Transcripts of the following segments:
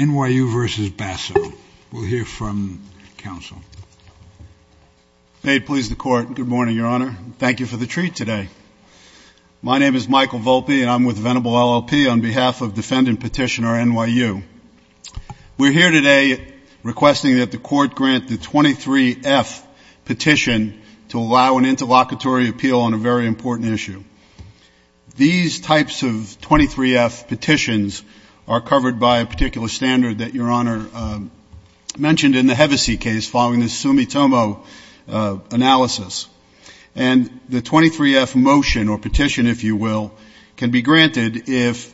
N.Y.U. v. Basso. We'll hear from counsel. May it please the court. Good morning, Your Honor. Thank you for the treat today. My name is Michael Volpe and I'm with Venable LLP on behalf of defendant petitioner N.Y.U. We're here today requesting that the court grant the 23-F petition to allow an interlocutory appeal on a very important issue. These types of 23-F petitions are covered by a particular standard that Your Honor mentioned in the Hevesi case following the Sumitomo analysis. And the 23-F motion or petition, if you will, can be granted if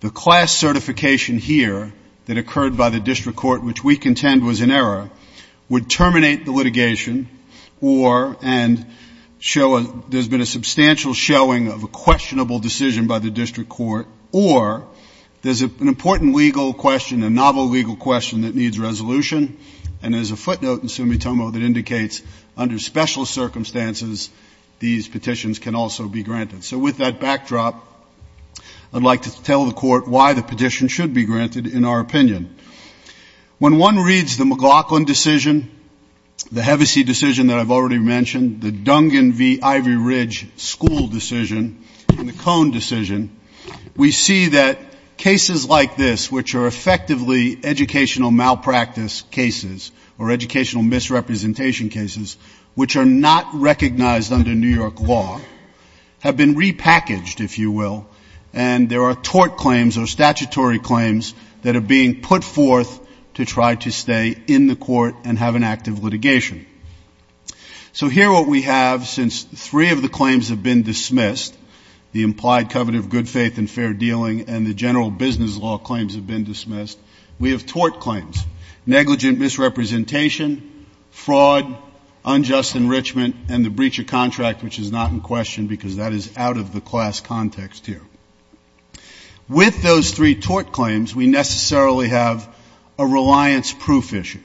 the class certification here that occurred by the district court, which we contend was in error, would terminate the litigation or and show there's been a substantial showing of a questionable decision by the district court or there's an important legal question, a novel legal question that needs resolution. And there's a footnote in Sumitomo that indicates under special circumstances these petitions can also be granted. So with that backdrop, I'd like to tell the court why the petition should be granted in our opinion. When one reads the McLaughlin decision, the Hevesi decision that I've already mentioned, the Dungan v. Ivory Ridge school decision, and the Cohn decision, we see that cases like this, which are effectively educational malpractice cases or educational misrepresentation cases, which are not recognized under New York law, have been repackaged, if you will, and there are tort claims or statutory claims that are being put forth to try to stay in the court and have an active litigation. So here what we have, since three of the claims have been dismissed, the implied covet of good faith and fair dealing and the general business law claims have been dismissed, we have tort claims, negligent misrepresentation, fraud, unjust enrichment, and the breach of contract, which is not in question because that is out of the class context here. With those three tort claims, we necessarily have a reliance proof issue.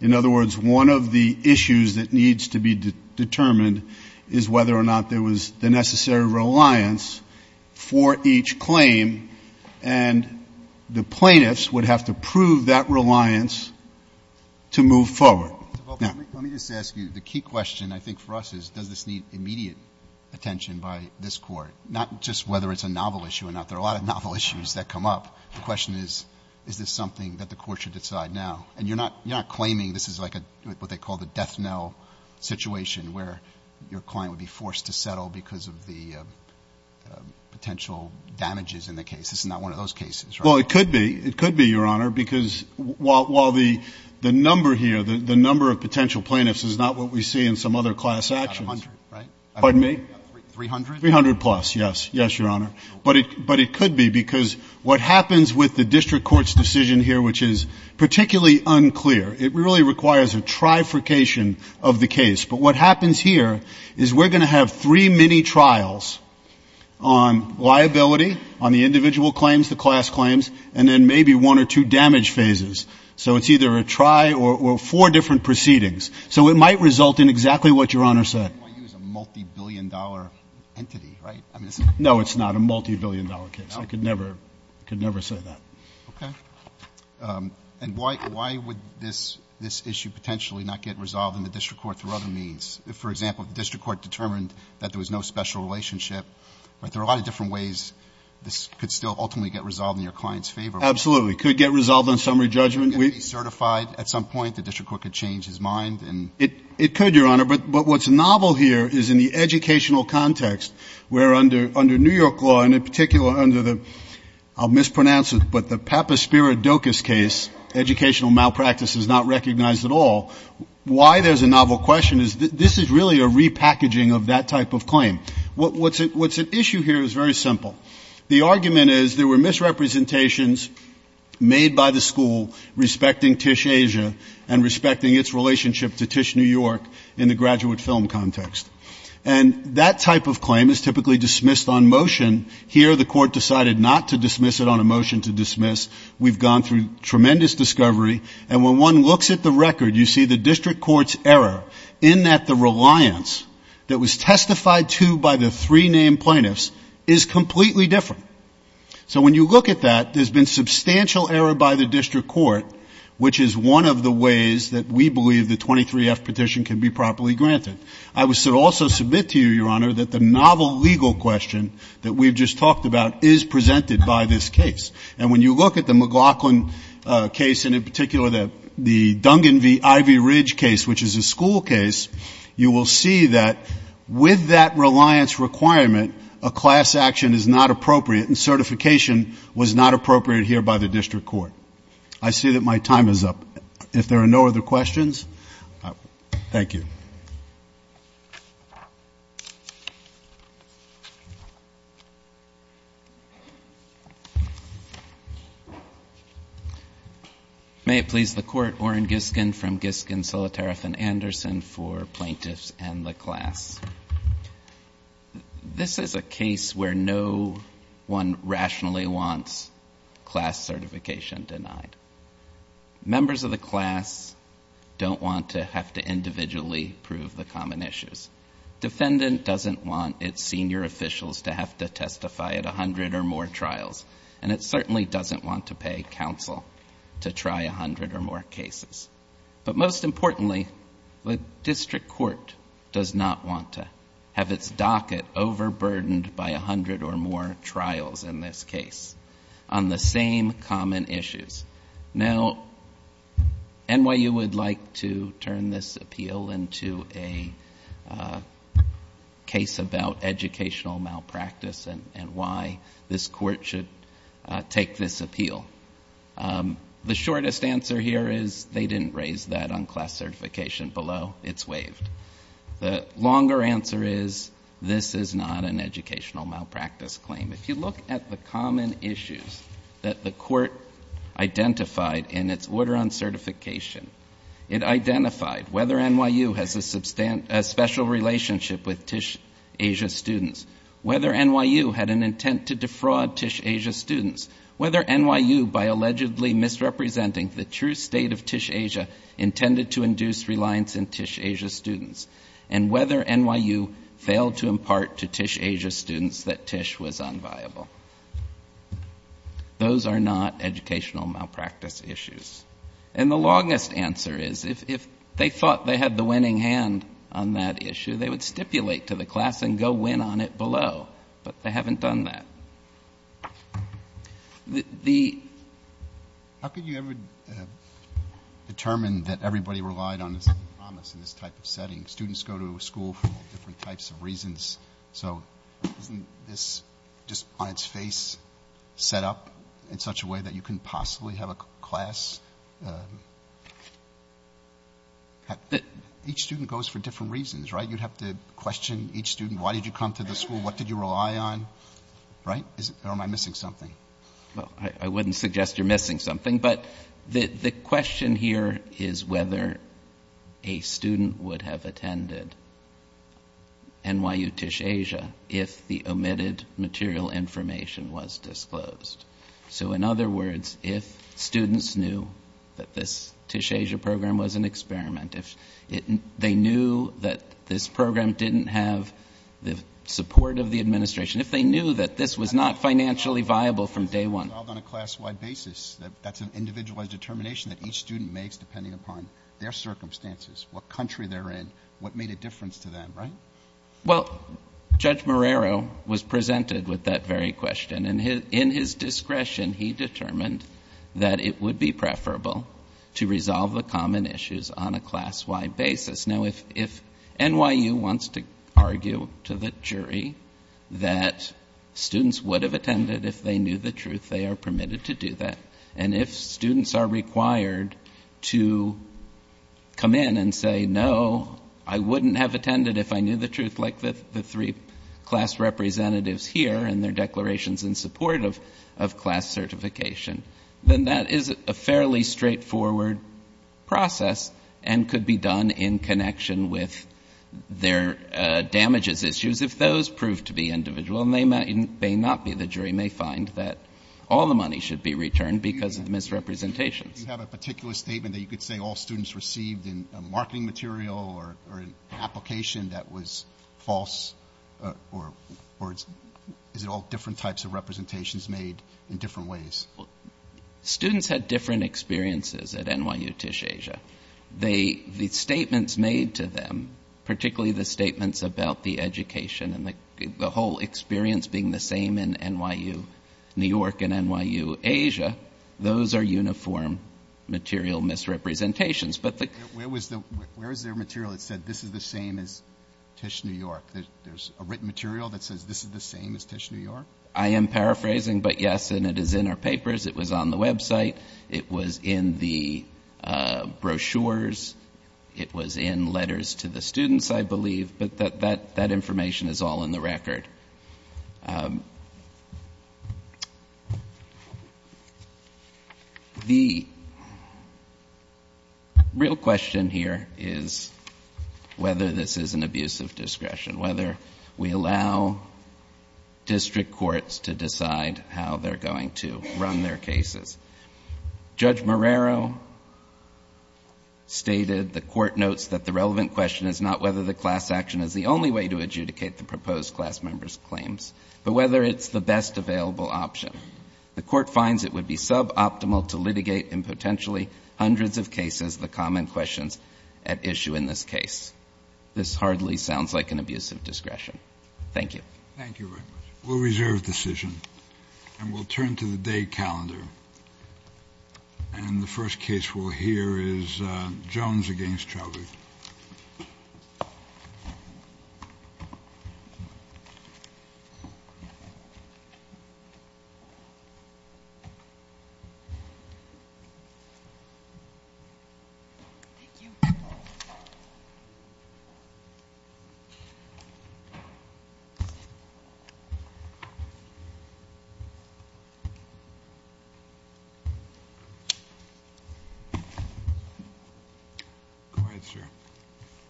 In other words, one of the issues that needs to be determined is whether or not there was the necessary reliance for each claim, and the plaintiffs would have to prove that reliance to move forward. Now, let me just ask you, the key question I think for us is, does this need immediate attention by this Court, not just whether it's a novel issue or not? There are a lot of novel issues that come up. The question is, is this something that the Court should decide now? And you're not claiming this is like what they call the death knell situation, where your client would be forced to settle because of the potential damages in the case. This is not one of those cases, right? Well, it could be. It could be, Your Honor, because while the number here, the number of potential plaintiffs is not what we see in some other class actions. It's not 100, right? Pardon me? 300? 300 plus, yes. Yes, Your Honor. But it could be, because what happens with the district court's decision here, which is particularly unclear, it really requires a trifurcation of the case. But what happens here is we're going to have three mini-trials on liability, on the individual claims, the class claims, and then maybe one or two damage phases. So it's either a try or four different proceedings. So it might result in exactly what Your Honor said. And NYU is a multi-billion dollar entity, right? No, it's not a multi-billion dollar case. I could never say that. Okay. And why would this issue potentially not get resolved in the district court through other means? If, for example, the district court determined that there was no special relationship, there are a lot of different ways this could still ultimately get resolved in your client's favor. Absolutely. It could get resolved on summary judgment. It could be certified at some point. The district court could change his mind. It could, Your Honor. But what's novel here is in the educational context, where under New York law, and in particular under the, I'll mispronounce it, but the Papaspiridocus case, educational malpractice is not recognized at all, why there's a novel question is this is really a repackaging of that type of claim. What's at issue here is very simple. The argument is there were misrepresentations made by the school respecting Tisch Asia and respecting its relationship to Tisch New York in the graduate film context. And that type of claim is typically dismissed on motion. Here, the court decided not to dismiss it on a motion to dismiss. We've gone through tremendous discovery. And when one looks at the record, you see the district court's error in that the reliance that was testified to by the three named plaintiffs is completely different. So when you look at that, there's been substantial error by the district court which is one of the ways that we believe the 23F petition can be properly granted. I would also submit to you, Your Honor, that the novel legal question that we've just talked about is presented by this case. And when you look at the McLaughlin case, and in particular the Dungan v. Ivy Ridge case, which is a school case, you will see that with that reliance requirement, a class action is not appropriate and certification was not appropriate here by the district court. I see that my time is up. If there are no other questions, thank you. May it please the court, Oren Giskin from Giskin, Solitareff, and Anderson for Plaintiffs and the Class. This is a case where no one rationally wants class certification denied. Members of the class don't want to have to individually prove the common issues. Defendant doesn't want its senior officials to have to testify at a hundred or more trials. And it certainly doesn't want to pay counsel to try a hundred or more docket overburdened by a hundred or more trials in this case on the same common issues. Now, NYU would like to turn this appeal into a case about educational malpractice and why this court should take this appeal. The shortest answer here is they didn't raise that on class certification below. It's waived. The longer answer is this is not an educational malpractice claim. If you look at the common issues that the court identified in its order on certification, it identified whether NYU has a special relationship with Tisch Asia students, whether NYU had an intent to defraud Tisch Asia students, whether NYU, by allegedly misrepresenting the true state of Tisch Asia students, and whether NYU failed to impart to Tisch Asia students that Tisch was unviable. Those are not educational malpractice issues. And the longest answer is if they thought they had the winning hand on that issue, they would stipulate to the class and go win on it below. But they haven't done that. The How could you ever determine that everybody relied on a promise in this type of setting? Students go to school for different types of reasons, so isn't this just on its face set up in such a way that you couldn't possibly have a class? Each student goes for different reasons, right? You'd have to question each student. Why did you come to the school? What did you rely on? Right? Or am I missing something? Well, I wouldn't suggest you're missing something, but the question here is whether a student would have attended NYU Tisch Asia if the omitted material information was disclosed. So in other words, if students knew that this Tisch Asia program was an experiment, if they knew that this program didn't have the support of the administration, if they knew that this was not financially viable from day one. It was resolved on a class-wide basis. That's an individualized determination that each student makes depending upon their circumstances, what country they're in, what made a difference to them, right? Well, Judge Marrero was presented with that very question, and in his discretion, he determined that it would be preferable to resolve the common issues on a class-wide basis. Now, if NYU wants to argue to the jury that students would have attended if they knew the truth, they are permitted to do that. And if students are required to come in and say, no, I wouldn't have attended if I knew the truth like the three class representatives here and their declarations in support of class certification, then that is a fairly straightforward process and could be done in connection with their damages issues. If those prove to be individual and they may not be the jury, they may find that all the money should be returned because of misrepresentations. Do you have a particular statement that you could say all students received in a marketing material or an application that was false, or is it all different types of representations made in different ways? Students had different experiences at NYU Tisch Asia. They — the statements made to them, particularly the statements about the education and the whole experience being the same in NYU — New York and NYU Asia, those are uniform material misrepresentations. But the — Where was the — where is there material that said this is the same as Tisch New York? There's a written material that says this is the same as Tisch New York? I am paraphrasing, but yes, and it is in our papers. It was on the website. It was in the brochures. It was in letters to the students, I believe, but that information is all in the record. The real question here is whether this is an abuse of discretion, whether we allow district courts to decide how they're going to run their cases. Judge Marrero stated the court notes that the relevant question is not whether the class action is the only way to adjudicate the proposed class member's claims, but whether it's the best available option. The court finds it would be suboptimal to litigate in potentially hundreds of cases the common questions at issue in this case. This hardly sounds like an abuse of discretion. Thank you. Thank you very much. We'll reserve decision, and we'll turn to the day calendar, and the first case we'll hear is Jones against Chauvet.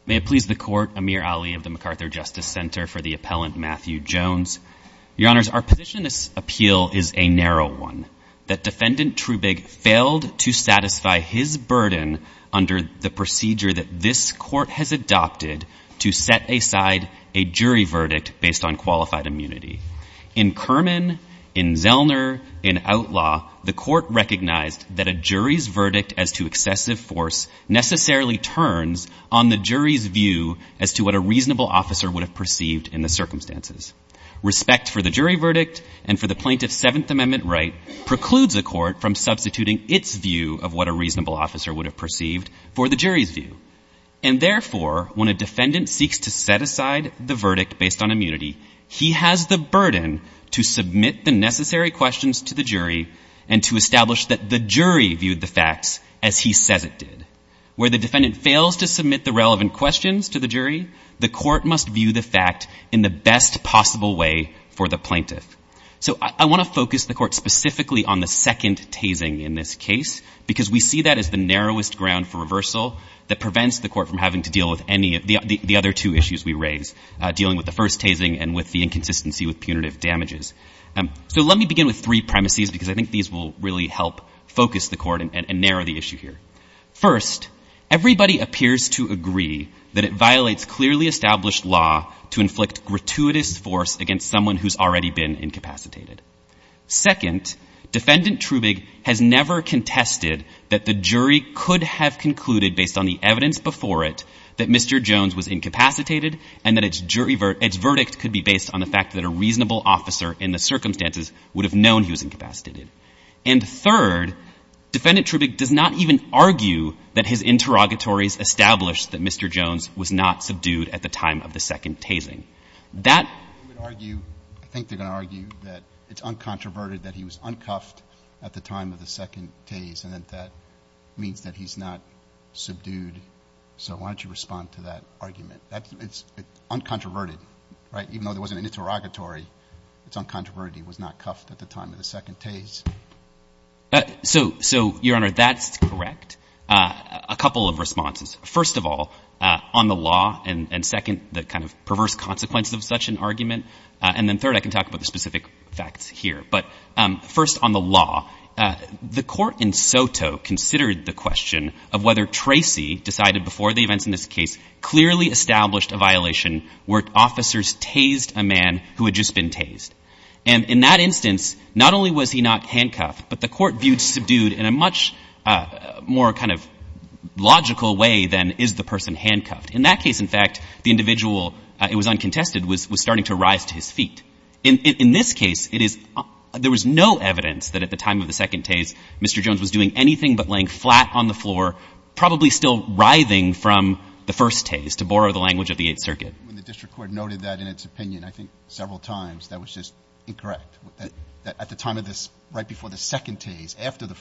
May it please the Court, Amir Ali of the MacArthur Justice Center, for the appellant Matthew Jones. Your Honors, our position in this appeal is a narrow one, that Defendant Trubig failed to satisfy his burden under the procedure that this Court has adopted to set aside a qualified immunity. In Kerman, in Zellner, in Outlaw, the Court recognized that a jury's verdict as to excessive force necessarily turns on the jury's view as to what a reasonable officer would have perceived in the circumstances. Respect for the jury verdict and for the plaintiff's Seventh Amendment right precludes a court from substituting its view of what a reasonable officer would have perceived for the jury's view. And therefore, when a defendant seeks to set aside the verdict based on immunity, he has the burden to submit the necessary questions to the jury and to establish that the jury viewed the facts as he says it did. Where the defendant fails to submit the relevant questions to the jury, the Court must view the fact in the best possible way for the plaintiff. So I want to focus the Court specifically on the second tasing in this case, because we see that as the narrowest ground for reversal that prevents the Court from having to deal with any of the other two issues we raise, dealing with the first tasing and with the inconsistency with punitive damages. So let me begin with three premises, because I think these will really help focus the Court and narrow the issue here. First, everybody appears to agree that it violates clearly established law to inflict gratuitous force against someone who's already been incapacitated. Second, Defendant Trubig has never contested that the jury could have concluded, based on the evidence before it, that Mr. Jones was incapacitated and that its verdict could be based on the fact that a reasonable officer in the circumstances would have known he was incapacitated. And third, Defendant Trubig does not even argue that his interrogatories established that Mr. Jones was not subdued at the time of the second tasing. That — I think they're going to argue that it's uncontroverted that he was uncuffed at the time of the second tase, and that that means that he's not subdued. So why don't you respond to that argument? It's uncontroverted, right? Even though there wasn't an interrogatory, it's uncontroverted he was not cuffed at the time of the second tase. So Your Honor, that's correct. A couple of responses. First of all, on the law, and second, the kind of perverse consequences of such an argument, and then third, I can talk about the specific facts here. But first, on the law, the court in Soto considered the question of whether Tracy decided before the events in this case clearly established a violation where officers tased a man who had just been tased. And in that instance, not only was he not handcuffed, but the court viewed subdued in a much more kind of logical way than is the person handcuffed. In that case, in fact, the individual, it was uncontested, was starting to rise to his feet. In this case, it is — there was no evidence that at the time of the second tase Mr. Jones was doing anything but laying flat on the floor, probably still writhing from the first tase, to borrow the language of the Eighth Circuit. When the district court noted that in its opinion, I think, several times, that was just incorrect. That at the time of this, right before the second tase, after the first tase, the individual